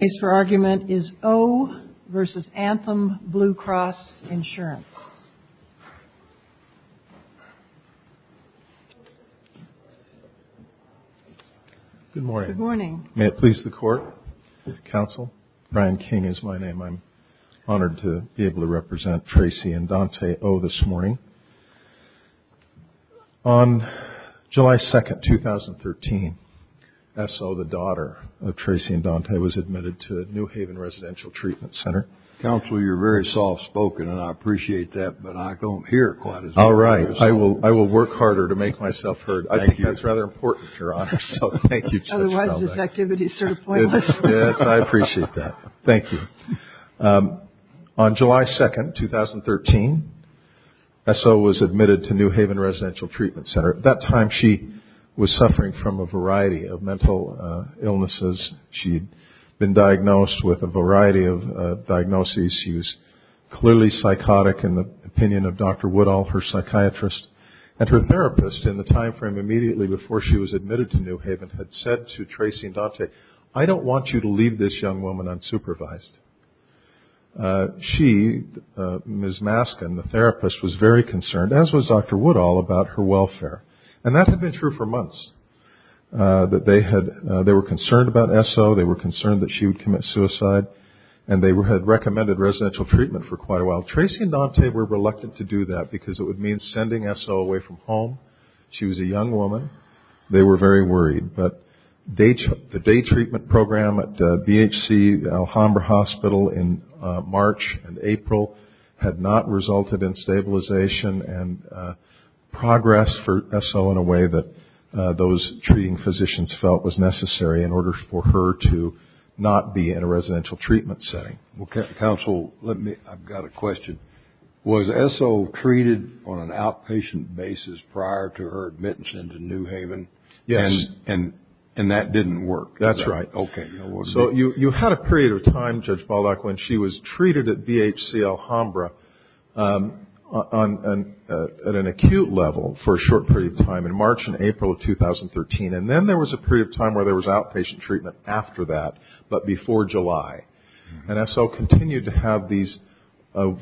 The case for argument is O. v. Anthem Blue Cross Insurance. Good morning. May it please the Court, the Counsel, Brian King is my name. I'm honored to be able to represent Tracy and Dante O. this morning. On July 2, 2013, S. O., the daughter of Tracy and Dante, was admitted to New Haven Residential Treatment Center. Counsel, you're very soft spoken and I appreciate that, but I don't hear quite as well as you do. All right. I will work harder to make myself heard. I think that's rather important, Your Honor, so thank you. Otherwise this activity is sort of pointless. Yes, I appreciate that. Thank you. On July 2, 2013, S. O. was admitted to New Haven Residential Treatment Center. At that time, she was suffering from a variety of mental illnesses. She had been diagnosed with a variety of diagnoses. She was clearly psychotic, in the opinion of Dr. Woodall, her psychiatrist. And her therapist, in the time frame immediately before she was admitted to New Haven, had said to Tracy and Dante, I don't want you to leave this young woman unsupervised. She, Ms. Maskin, the therapist, was very concerned, as was Dr. Woodall, about her welfare. And that had been true for months. They were concerned about S. O., they were concerned that she would commit suicide, and they had recommended residential treatment for quite a while. Tracy and Dante were reluctant to do that, because it would mean sending S. O. away from home. She was a young woman. They were very worried. But the day treatment program at BHC Alhambra Hospital in March and April had not resulted in stabilization and progress for S. O. in a way that those treating physicians felt was necessary in order for her to not be in a residential treatment setting. Counsel, I've got a question. Was S. O. treated on an outpatient basis prior to her admission to New Haven? Yes. And that didn't work? That's right. So you had a period of time, Judge Baldock, when she was treated at BHC Alhambra at an acute level for a short period of time in March and April of 2013. And then there was a period of time where there was outpatient treatment after that, but before July. And S. O. continued to have these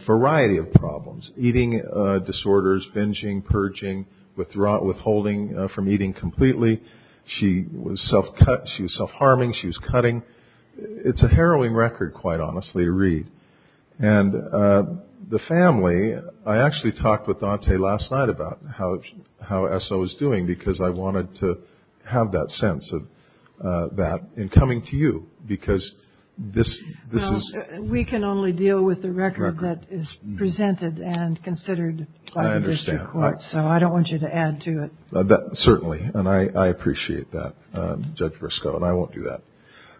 variety of problems, eating disorders, binging, purging, withholding from eating completely. She was self-harming. She was cutting. It's a harrowing record, quite honestly, to read. And the family, I actually talked with Dante last night about how S. O. is doing, because I wanted to have that sense of that in coming to you, because this is ‑‑ Certainly, and I appreciate that, Judge Briscoe, and I won't do that.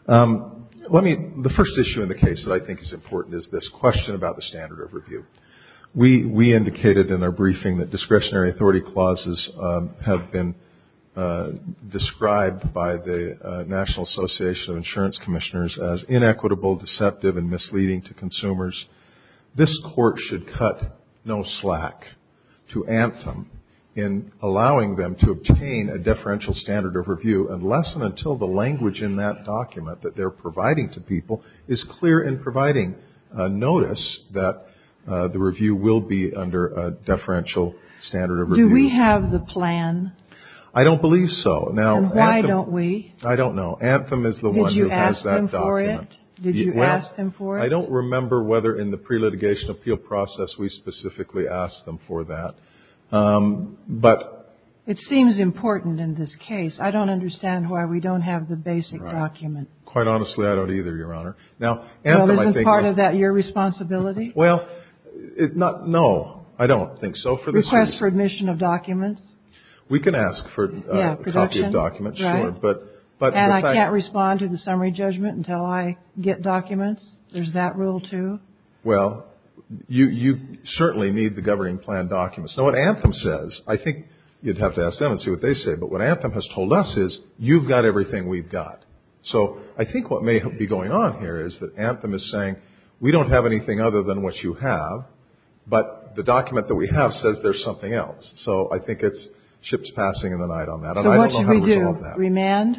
The first issue in the case that I think is important is this question about the standard of review. We indicated in our briefing that discretionary authority clauses have been described by the National Association of Insurance Commissioners as inequitable, deceptive, and misleading to consumers. This Court should cut no slack to Anthem in allowing them to obtain a deferential standard of review unless and until the language in that document that they're providing to people is clear in providing notice that the review will be under a deferential standard of review. Do we have the plan? I don't believe so. And why don't we? I don't know. Anthem is the one who has that document. Did you ask them for it? I don't remember whether in the pre-litigation appeal process we specifically asked them for that. It seems important in this case. I don't understand why we don't have the basic document. Quite honestly, I don't either, Your Honor. Well, isn't part of that your responsibility? No, I don't think so. Request for admission of documents? We can ask for a copy of documents, sure. And I can't respond to the summary judgment until I get documents? There's that rule, too? Well, you certainly need the governing plan documents. I think you'd have to ask them and see what they say, but what Anthem has told us is you've got everything we've got. So I think what may be going on here is that Anthem is saying we don't have anything other than what you have, but the document that we have says there's something else. So I think it's chips passing in the night on that, and I don't know how to resolve that. So what should we do? Remand?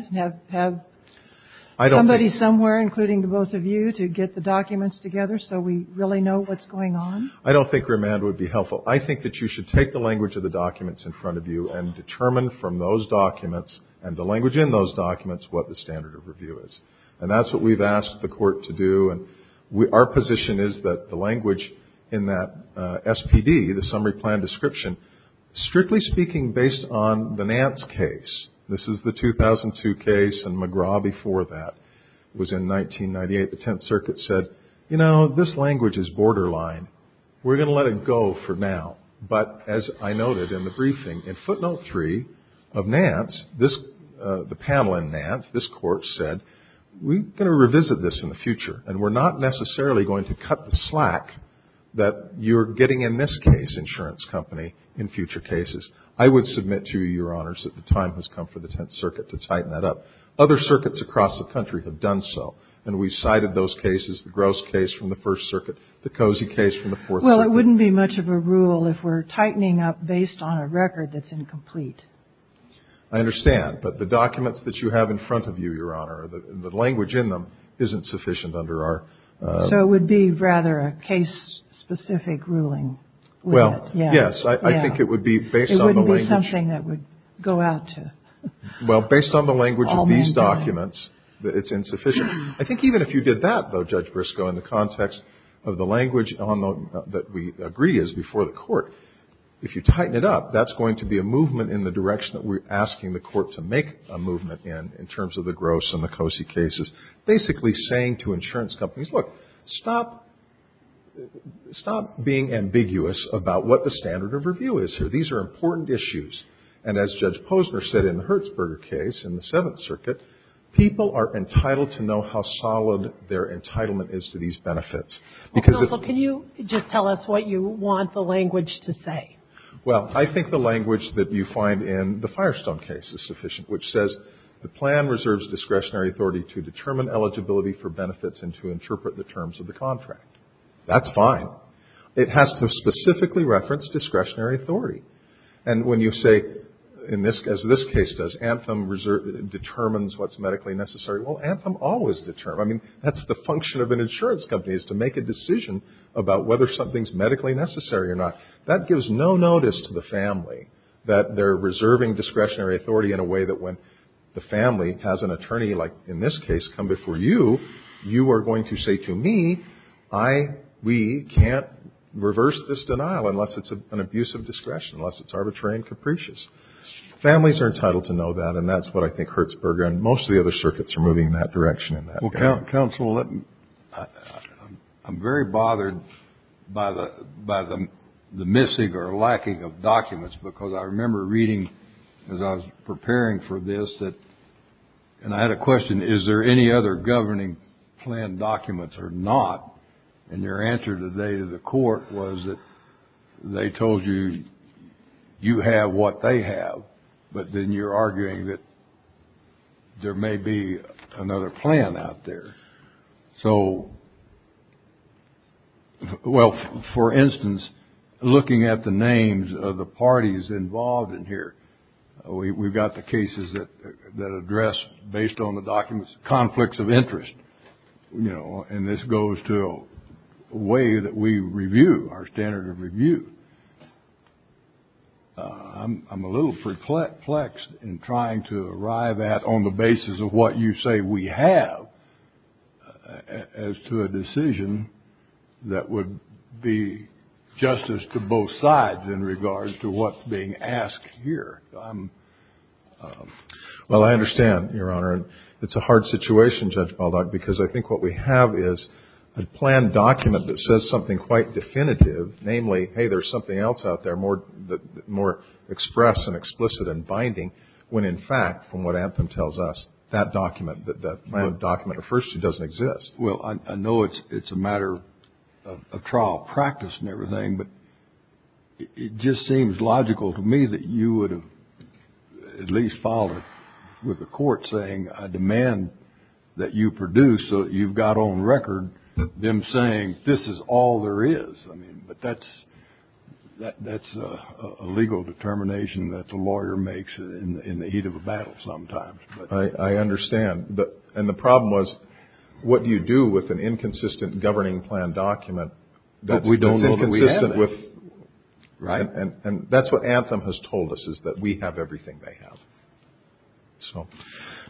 Have somebody somewhere, including the both of you, to get the documents together so we really know what's going on? I don't think remand would be helpful. I think that you should take the language of the documents in front of you and determine from those documents and the language in those documents what the standard of review is. And that's what we've asked the Court to do, and our position is that the language in that SPD, the summary plan description, strictly speaking based on the Nance case, this is the 2002 case and McGraw before that was in 1998, the Tenth Circuit said, you know, this language is borderline. We're going to let it go for now. But as I noted in the briefing, in footnote three of Nance, the panel in Nance, this Court said, we're going to revisit this in the future, and we're not necessarily going to cut the slack that you're getting in this case, but we're going to review it and determine whether or not we can do it. We'll do that in the case of the State Insurance Company in future cases. I would submit to you, Your Honors, that the time has come for the Tenth Circuit to tighten that up. Other circuits across the country have done so, and we've cited those cases, the Grosse case from the First Circuit, the Cozy case from the Fourth Circuit. Well, it wouldn't be much of a rule if we're tightening up based on a record that's incomplete. I understand. But the documents that you have in front of you, Your Honor, the language in them isn't sufficient under our – So it would be rather a case-specific ruling. Well, yes. I think it would be based on the language – It wouldn't be something that would go out to all mankind. Well, based on the language of these documents, it's insufficient. I think even if you did that, though, Judge Briscoe, in the context of the language that we agree is before the Court, if you tighten it up, that's going to be a movement in the direction that we're asking the Court to make a movement in, in terms of the Grosse and the Cozy cases, basically saying to insurance companies, look, stop being ambiguous about what the standard of review is here. These are important issues. And as Judge Posner said in the Hertzberger case, in the Seventh Circuit, people are entitled to know how solid their entitlement is to these benefits. Counsel, can you just tell us what you want the language to say? Well, I think the language that you find in the Firestone case is sufficient, which says the plan reserves discretionary authority to determine eligibility for benefits and to interpret the terms of the contract. That's fine. It has to specifically reference discretionary authority. And when you say, as this case does, Anthem determines what's medically necessary, well, Anthem always determines. I mean, that's the function of an insurance company is to make a decision about whether something's medically necessary or not. That gives no notice to the family that they're reserving discretionary authority in a way that when the family has an attorney like in this case come before you, you are going to say to me, I, we can't reverse this denial unless it's an abuse of discretion, unless it's arbitrary and capricious. Families are entitled to know that, and that's what I think Hertzberger and most of the other circuits are moving in that direction in that case. Counsel, I'm very bothered by the missing or lacking of documents, because I remember reading as I was preparing for this that, and I had a question, is there any other governing plan documents or not? And your answer today to the court was that they told you you have what they have, but then you're arguing that there may be another plan out there. So, well, for instance, looking at the names of the parties involved in here, we've got the cases that address, based on the documents, conflicts of interest. And, you know, and this goes to a way that we review, our standard of review. I'm a little perplexed in trying to arrive at, on the basis of what you say we have, as to a decision that would be justice to both sides in regards to what's being asked here. Well, I understand, Your Honor. It's a hard situation, Judge Baldock, because I think what we have is a plan document that says something quite definitive, namely, hey, there's something else out there more express and explicit and binding, when, in fact, from what Anthem tells us, that document, that plan document, at first, it doesn't exist. Well, I know it's a matter of trial practice and everything, but it just seems logical to me that you would have at least followed with the court saying, I demand that you produce so that you've got on record them saying, this is all there is. I mean, but that's a legal determination that the lawyer makes in the heat of a battle sometimes. I understand. And the problem was, what do you do with an inconsistent governing plan document? But we don't know that we have it. And that's what Anthem has told us, is that we have everything they have.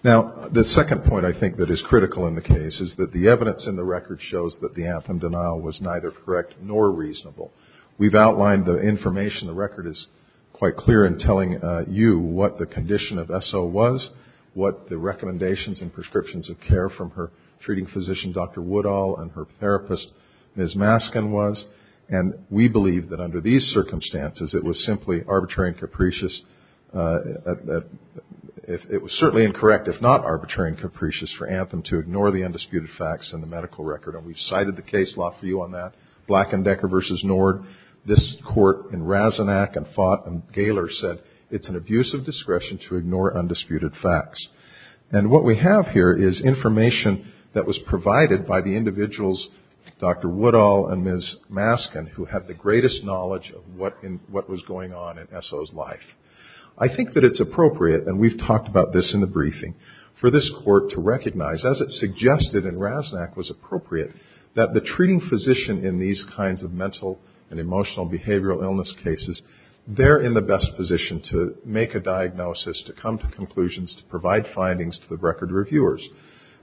Now, the second point I think that is critical in the case is that the evidence in the record shows that the Anthem denial was neither correct nor reasonable. We've outlined the information. The record is quite clear in telling you what the condition of Esso was, what the recommendations and prescriptions of care from her treating physician, Dr. Woodall, and her therapist, Ms. Maskin, was. And we believe that under these circumstances, it was simply arbitrary and capricious. It was certainly incorrect, if not arbitrary and capricious, for Anthem to ignore the undisputed facts in the medical record. And we've cited the case law for you on that, Black and Decker versus Nord. This court in Razanac and Fott and Gaylor said, it's an abuse of discretion to ignore undisputed facts. And what we have here is information that was provided by the individuals, Dr. Woodall and Ms. Maskin, who had the greatest knowledge of what was going on in Esso's life. I think that it's appropriate, and we've talked about this in the briefing, for this court to recognize, as it suggested in Razanac, was appropriate that the treating physician in these kinds of mental and emotional behavioral illness cases, they're in the best position to make a diagnosis, to come to conclusions, to provide findings to the record reviewers.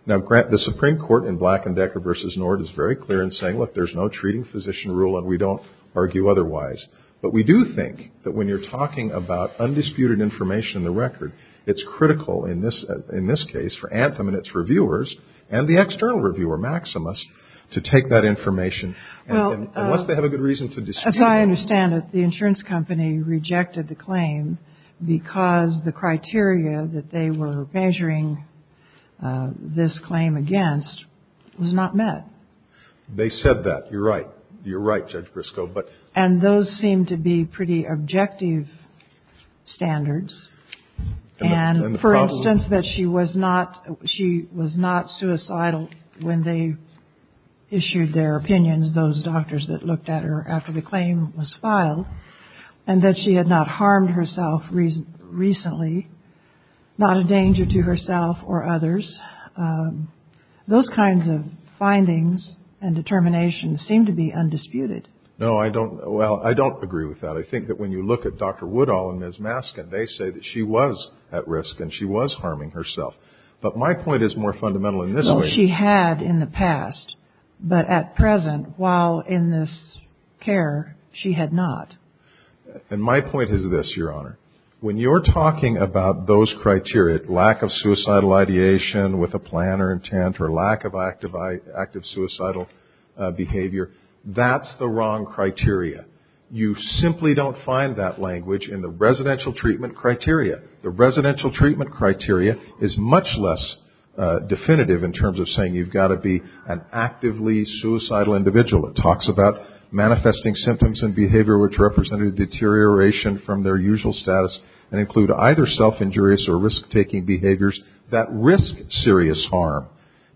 Now, the Supreme Court in Black and Decker versus Nord is very clear in saying, look, there's no treating physician rule, and we don't argue otherwise. But we do think that when you're talking about undisputed information in the record, it's critical in this case for Anthem and its reviewers, and the external reviewer, Maximus, to take that information, unless they have a good reason to dispute it. I understand that the insurance company rejected the claim because the criteria that they were measuring this claim against was not met. They said that. You're right. You're right, Judge Briscoe. And those seem to be pretty objective standards. And for instance, that she was not suicidal when they issued their opinions, those doctors that looked at her after the claim was filed, and that she had not harmed herself recently, not a danger to herself or others. Those kinds of findings and determinations seem to be undisputed. No, I don't. Well, I don't agree with that. I think that when you look at Dr. Woodall and Ms. Maskin, they say that she was at risk and she was harming herself. But my point is more fundamental in this way. She had in the past, but at present, while in this care, she had not. And my point is this, Your Honor. When you're talking about those criteria, lack of suicidal ideation with a plan or intent or lack of active suicidal behavior, that's the wrong criteria. You simply don't find that language in the residential treatment criteria. The residential treatment criteria is much less definitive in terms of saying you've got to be an actively suicidal individual. It talks about manifesting symptoms and behavior which represent a deterioration from their usual status and include either self-injurious or risk-taking behaviors that risk serious harm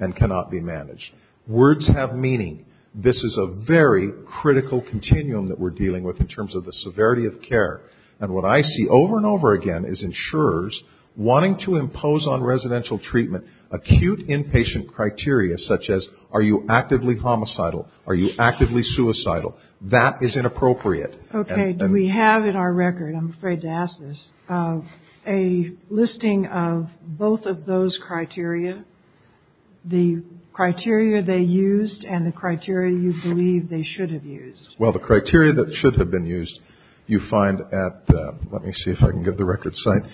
and cannot be managed. Words have meaning. This is a very critical continuum that we're dealing with in terms of the severity of care. And what I see over and over again is insurers wanting to impose on residential treatment acute inpatient criteria such as are you actively homicidal, are you actively suicidal. That is inappropriate. Okay. We have in our record, I'm afraid to ask this, a listing of both of those criteria, the criteria they used and the criteria you believe they should have used. Well, the criteria that should have been used you find at, let me see if I can get the record signed,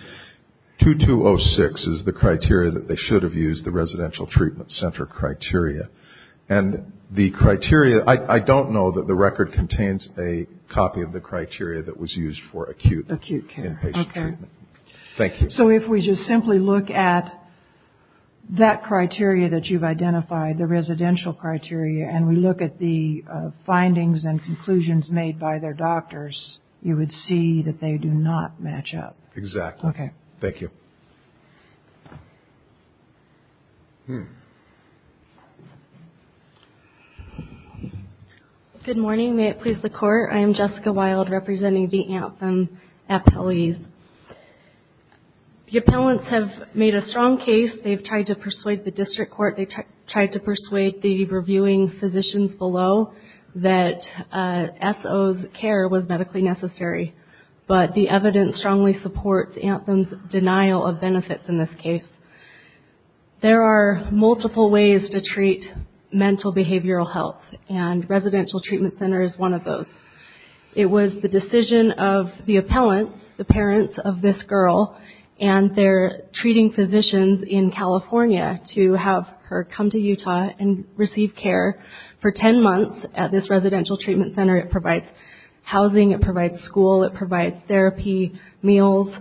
2206 is the criteria that they should have used, the residential treatment center criteria. And the criteria, I don't know that the record contains a copy of the criteria that was used for acute inpatient treatment. Okay. Thank you. So if we just simply look at that criteria that you've identified, the residential criteria, and we look at the findings and conclusions made by their doctors, you would see that they do not match up. Exactly. Okay. Thank you. Good morning. May it please the Court. I am Jessica Wild representing the Anthem appellees. The appellants have made a strong case. They've tried to persuade the district court. They've tried to persuade the reviewing physicians below that SO's care was medically necessary. But the evidence strongly supports Anthem's denial of benefits in this case. There are multiple ways to treat mental behavioral health, and residential treatment center is one of those. It was the decision of the appellants, the parents of this girl, and they're treating physicians in California to have her come to Utah and receive care for 10 months at this residential treatment center. It provides housing. It provides school. It provides therapy, meals.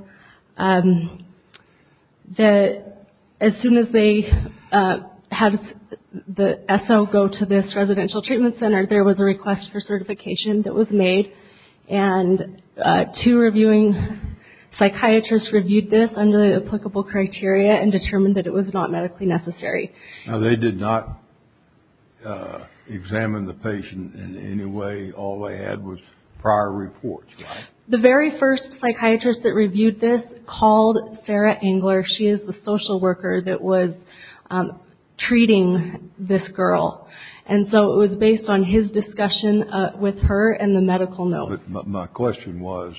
As soon as they had the SO go to this residential treatment center, there was a request for certification that was made, and two reviewing psychiatrists reviewed this under the applicable criteria and determined that it was not medically necessary. Now, they did not examine the patient in any way. All they had was prior reports, right? The very first psychiatrist that reviewed this called Sarah Engler. She is the social worker that was treating this girl. And so it was based on his discussion with her and the medical note. But my question was,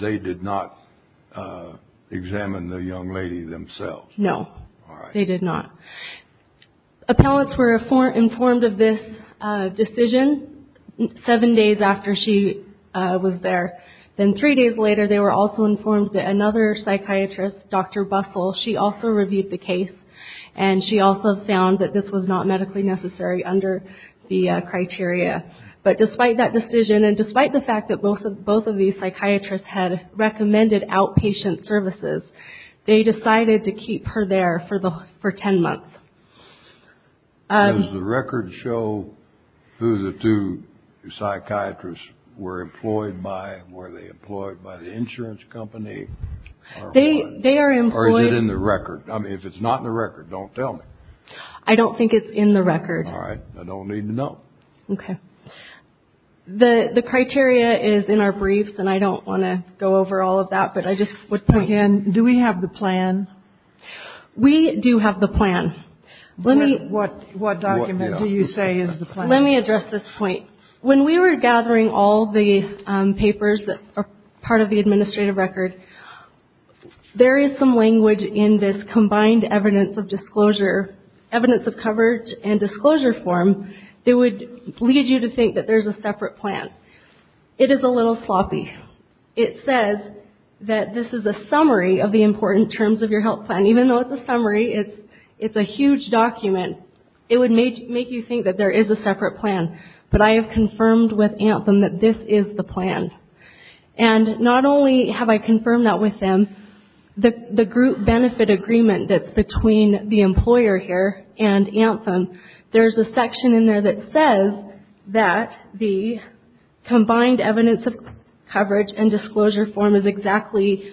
they did not examine the young lady themselves? No, they did not. Appellants were informed of this decision seven days after she was there. Then three days later, they were also informed that another psychiatrist, Dr. Bussell, she also reviewed the case, and she also found that this was not medically necessary under the criteria. But despite that decision and despite the fact that both of these psychiatrists had recommended outpatient services, they decided to keep her there for 10 months. Does the record show who the two psychiatrists were employed by? Were they employed by the insurance company? They are employed. Or is it in the record? I mean, if it's not in the record, don't tell me. I don't think it's in the record. All right. I don't need to know. Okay. The criteria is in our briefs, and I don't want to go over all of that, but I just would point to it. And do we have the plan? We do have the plan. What document do you say is the plan? Let me address this point. When we were gathering all the papers that are part of the administrative record, there is some language in this combined evidence of disclosure, evidence of coverage and disclosure form, that would lead you to think that there's a separate plan. It is a little sloppy. It says that this is a summary of the important terms of your health plan. Even though it's a summary, it's a huge document. It would make you think that there is a separate plan. But I have confirmed with Anthem that this is the plan. And not only have I confirmed that with them, the group benefit agreement that's between the employer here and Anthem, there's a section in there that says that the combined evidence of coverage and disclosure form is exactly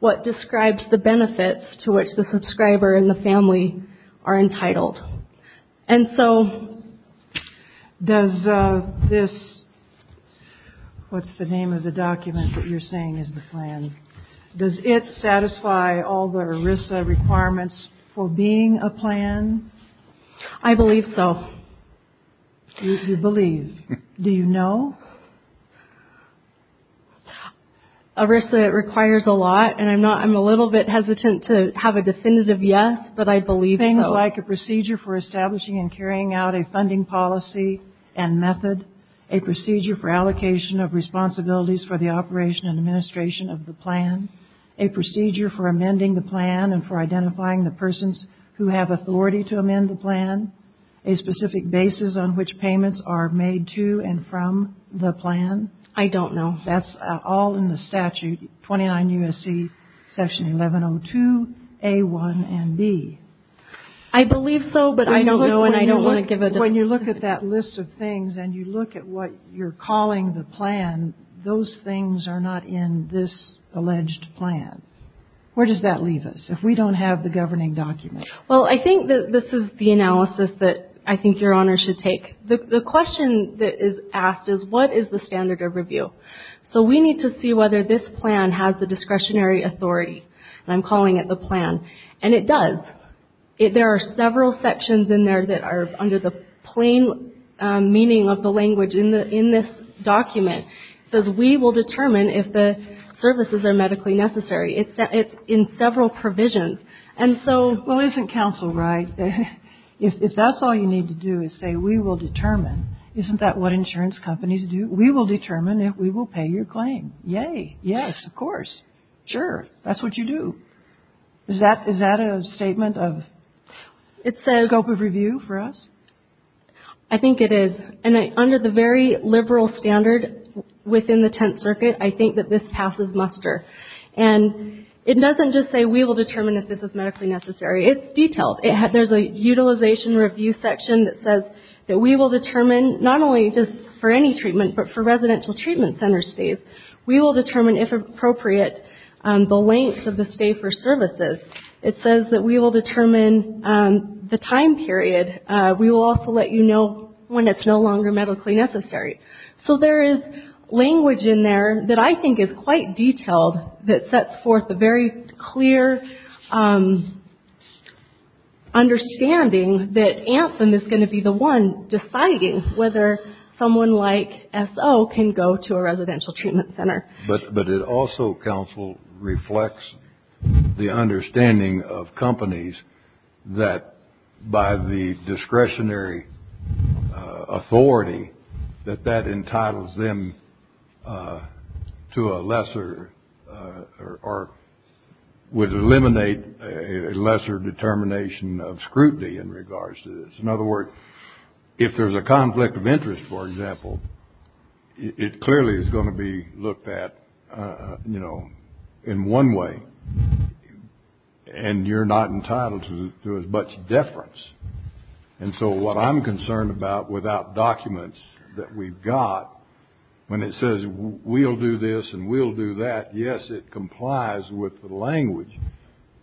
what describes the benefits to which the subscriber and the family are entitled. And so does this, what's the name of the document that you're saying is the plan, does it satisfy all the ERISA requirements for being a plan? I believe so. You believe. Do you know? ERISA requires a lot, and I'm a little bit hesitant to have a definitive yes, but I believe so. Things like a procedure for establishing and carrying out a funding policy and method, a procedure for allocation of responsibilities for the operation and administration of the plan, a procedure for amending the plan and for identifying the persons who have authority to amend the plan, a specific basis on which payments are made to and from the plan. I don't know. That's all in the statute, 29 U.S.C. section 1102 A1 and B. I believe so, but I don't know and I don't want to give a definitive answer. When you look at that list of things and you look at what you're calling the plan, those things are not in this alleged plan. Where does that leave us if we don't have the governing document? Well, I think that this is the analysis that I think Your Honor should take. The question that is asked is what is the standard of review? So we need to see whether this plan has the discretionary authority, and I'm calling it the plan, and it does. There are several sections in there that are under the plain meaning of the language in this document. It says we will determine if the services are medically necessary. It's in several provisions. Well, isn't counsel right? If that's all you need to do is say we will determine, isn't that what insurance companies do? We will determine if we will pay your claim. Yay. Yes, of course. Sure. That's what you do. Is that a statement of scope of review for us? I think it is. And under the very liberal standard within the Tenth Circuit, I think that this passes muster. And it doesn't just say we will determine if this is medically necessary. It's detailed. There's a utilization review section that says that we will determine not only just for any treatment, but for residential treatment center stays. We will determine if appropriate the length of the stay for services. It says that we will determine the time period. We will also let you know when it's no longer medically necessary. So there is language in there that I think is quite detailed that sets forth a very clear understanding that Anthem is going to be the one deciding whether someone like SO can go to a residential treatment center. But it also, counsel, reflects the understanding of companies that by the discretionary authority, that that entitles them to a lesser or would eliminate a lesser determination of scrutiny in regards to this. In other words, if there's a conflict of interest, for example, it clearly is going to be looked at, you know, in one way. And you're not entitled to as much deference. And so what I'm concerned about without documents that we've got, when it says we'll do this and we'll do that, yes, it complies with the language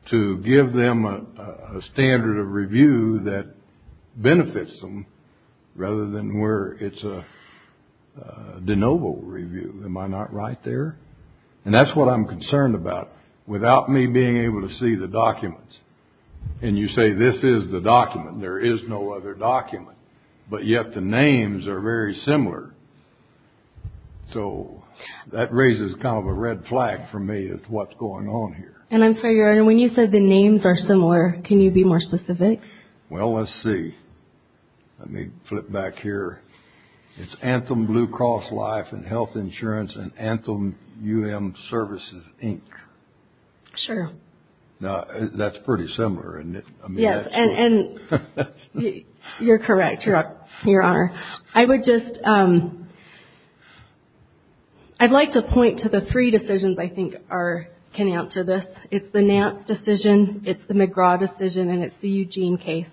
to give them a standard of review that benefits them rather than where it's a de novo review. Am I not right there? And that's what I'm concerned about without me being able to see the documents. And you say this is the document. There is no other document. But yet the names are very similar. So that raises kind of a red flag for me as to what's going on here. And I'm sorry, Your Honor, when you said the names are similar, can you be more specific? Well, let's see. Let me flip back here. It's Anthem Blue Cross Life and Health Insurance and Anthem UM Services, Inc. Sure. Now, that's pretty similar, isn't it? Yes, and you're correct, Your Honor. I would just, I'd like to point to the three decisions I think can answer this. It's the Nance decision, it's the McGraw decision, and it's the Eugene case.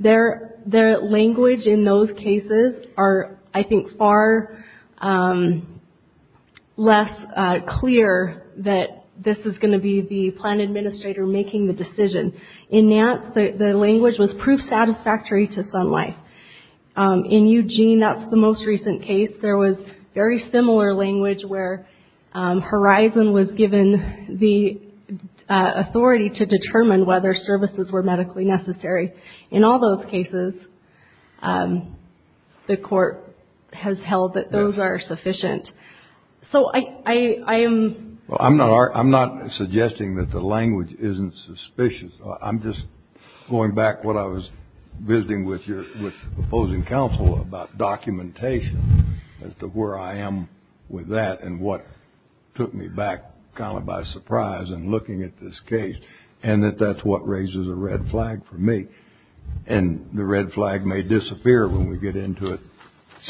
Their language in those cases are, I think, far less clear that this is going to be the plan administrator making the decision. In Nance, the language was proof satisfactory to Sun Life. In Eugene, that's the most recent case. There was very similar language where Horizon was given the authority to determine whether services were medically necessary. In all those cases, the court has held that those are sufficient. So I am... Well, I'm not suggesting that the language isn't suspicious. I'm just going back what I was visiting with your opposing counsel about documentation as to where I am with that and what took me back kind of by surprise in looking at this case, and that that's what raises a red flag for me. And the red flag may disappear when we get into it.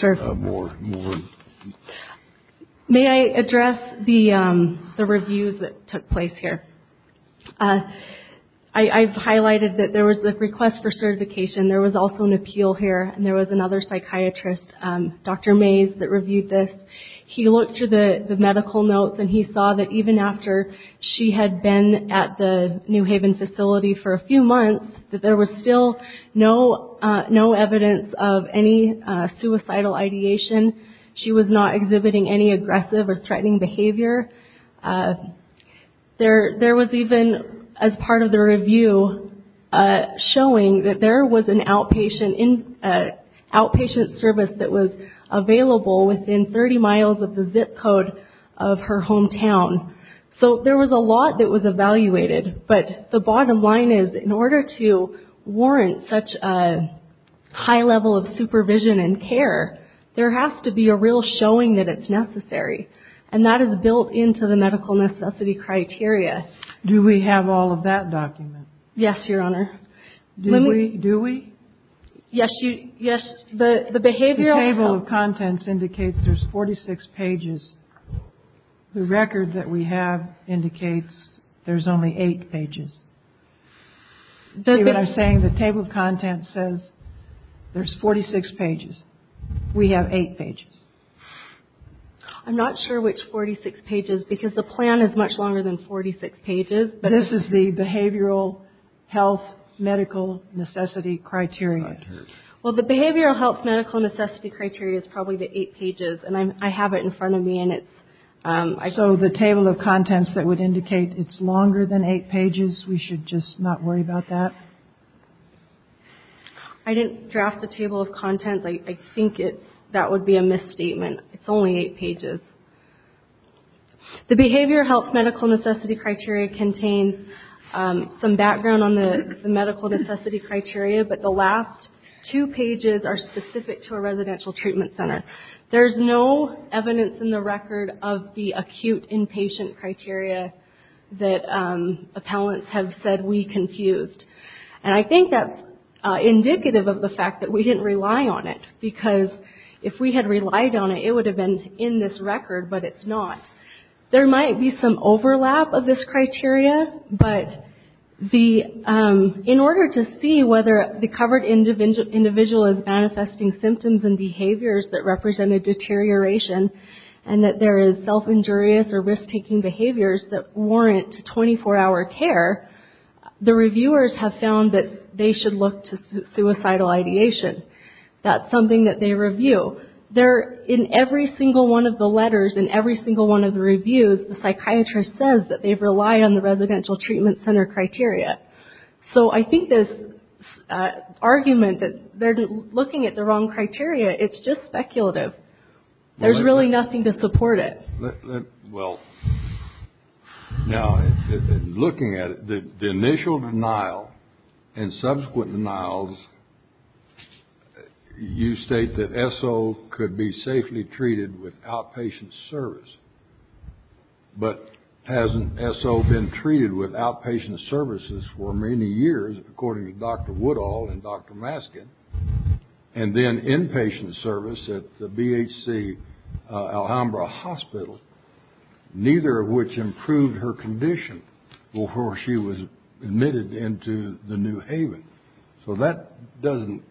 Sure. May I address the reviews that took place here? I've highlighted that there was the request for certification. There was also an appeal here, and there was another psychiatrist, Dr. Mays, that reviewed this. He looked through the medical notes, and he saw that even after she had been at the New Haven facility for a few months, that there was still no evidence of any suicidal ideation. She was not exhibiting any aggressive or threatening behavior. There was even, as part of the review, showing that there was an outpatient service that was available within 30 miles of the zip code of her hometown. So there was a lot that was evaluated, but the bottom line is, in order to warrant such a high level of supervision and care, there has to be a real showing that it's necessary, and that is built into the medical necessity criteria. Do we have all of that documented? Yes, Your Honor. Do we? Yes. The table of contents indicates there's 46 pages. The record that we have indicates there's only 8 pages. See what I'm saying? The table of contents says there's 46 pages. We have 8 pages. I'm not sure which 46 pages, because the plan is much longer than 46 pages. This is the behavioral health medical necessity criteria. Well, the behavioral health medical necessity criteria is probably the 8 pages, and I have it in front of me. So the table of contents that would indicate it's longer than 8 pages, we should just not worry about that? I didn't draft the table of contents. I think that would be a misstatement. It's only 8 pages. The behavioral health medical necessity criteria contains some background on the medical necessity criteria, but the last two pages are specific to a residential treatment center. There's no evidence in the record of the acute inpatient criteria that appellants have said we confused. And I think that's indicative of the fact that we didn't rely on it, because if we had relied on it, it would have been in this record, but it's not. There might be some overlap of this criteria, but in order to see whether the covered individual is manifesting symptoms and behaviors that represent a deterioration, and that there is self-injurious or risk-taking behaviors that warrant 24-hour care, the reviewers have found that they should look to suicidal ideation. That's something that they review. In every single one of the letters, in every single one of the reviews, the psychiatrist says that they rely on the residential treatment center criteria. So I think this argument that they're looking at the wrong criteria, it's just speculative. There's really nothing to support it. Well, now, looking at it, the initial denial and subsequent denials, you state that SO could be safely treated with outpatient service, but hasn't SO been treated with outpatient services for many years, according to Dr. Woodall and Dr. Maskin, and then inpatient service at the BHC Alhambra Hospital, neither of which improved her condition before she was admitted into the New Haven. So that doesn't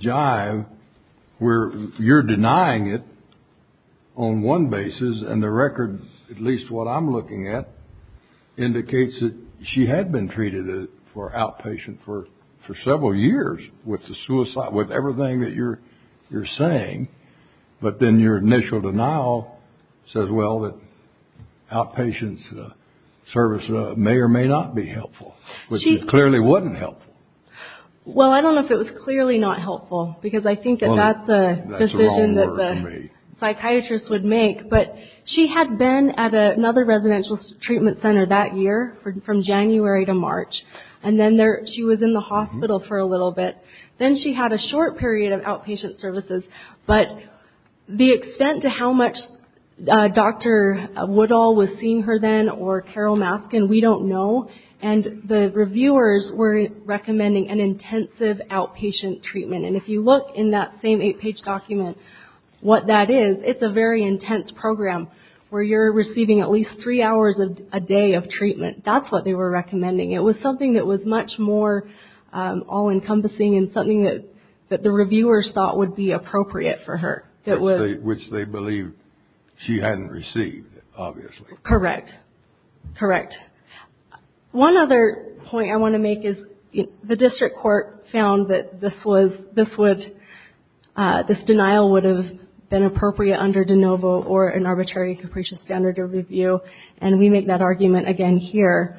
jive where you're denying it on one basis, and the record, at least what I'm looking at, indicates that she had been treated for outpatient for several years with the suicide, with everything that you're saying, but then your initial denial says, well, that outpatient service may or may not be helpful, which clearly wasn't helpful. Well, I don't know if it was clearly not helpful, because I think that that's a decision that the psychiatrist would make, but she had been at another residential treatment center that year from January to March, and then she was in the hospital for a little bit. Then she had a short period of outpatient services, but the extent to how much Dr. Woodall was seeing her then or Carol Maskin, we don't know, and the reviewers were recommending an intensive outpatient treatment, and if you look in that same eight-page document what that is, it's a very intense program where you're receiving at least three hours a day of treatment. That's what they were recommending. It was something that was much more all-encompassing and something that the reviewers thought would be appropriate for her. Which they believed she hadn't received, obviously. Correct. Correct. One other point I want to make is the district court found that this denial would have been appropriate under de novo or an arbitrary capricious standard of review, and we make that argument again here.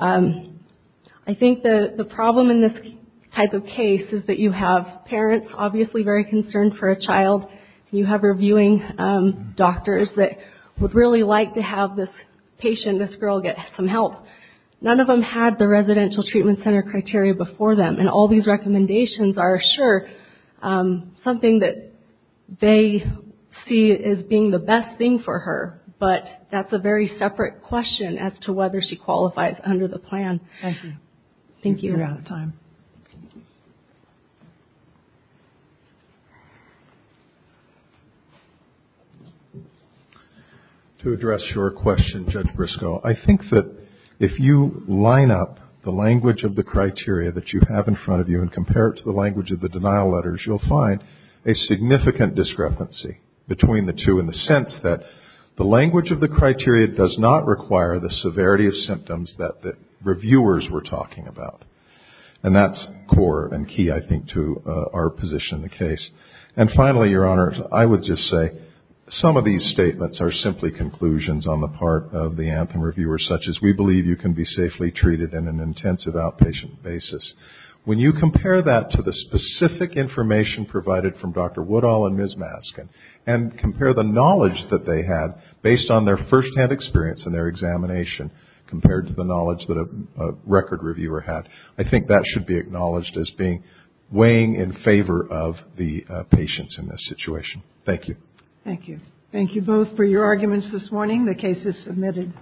I think the problem in this type of case is that you have parents obviously very concerned for a child, and you have reviewing doctors that would really like to have this patient, this girl, get some help. None of them had the residential treatment center criteria before them, and all these recommendations are, sure, something that they see as being the best thing for her, but that's a very separate question as to whether she qualifies under the plan. Thank you. Thank you. We're out of time. To address your question, Judge Briscoe, I think that if you line up the language of the criteria that you have in front of you and compare it to the language of the denial letters, you'll find a significant discrepancy between the two And that's core and key, I think, to our position in the case. And finally, Your Honor, I would just say some of these statements are simply conclusions on the part of the Anthem reviewers, such as we believe you can be safely treated in an intensive outpatient basis. When you compare that to the specific information provided from Dr. Woodall and Ms. Maskin and compare the knowledge that they had based on their firsthand experience and their examination compared to the knowledge that a record reviewer had, I think that should be acknowledged as weighing in favor of the patients in this situation. Thank you. Thank you. Thank you both for your arguments this morning. The case is submitted.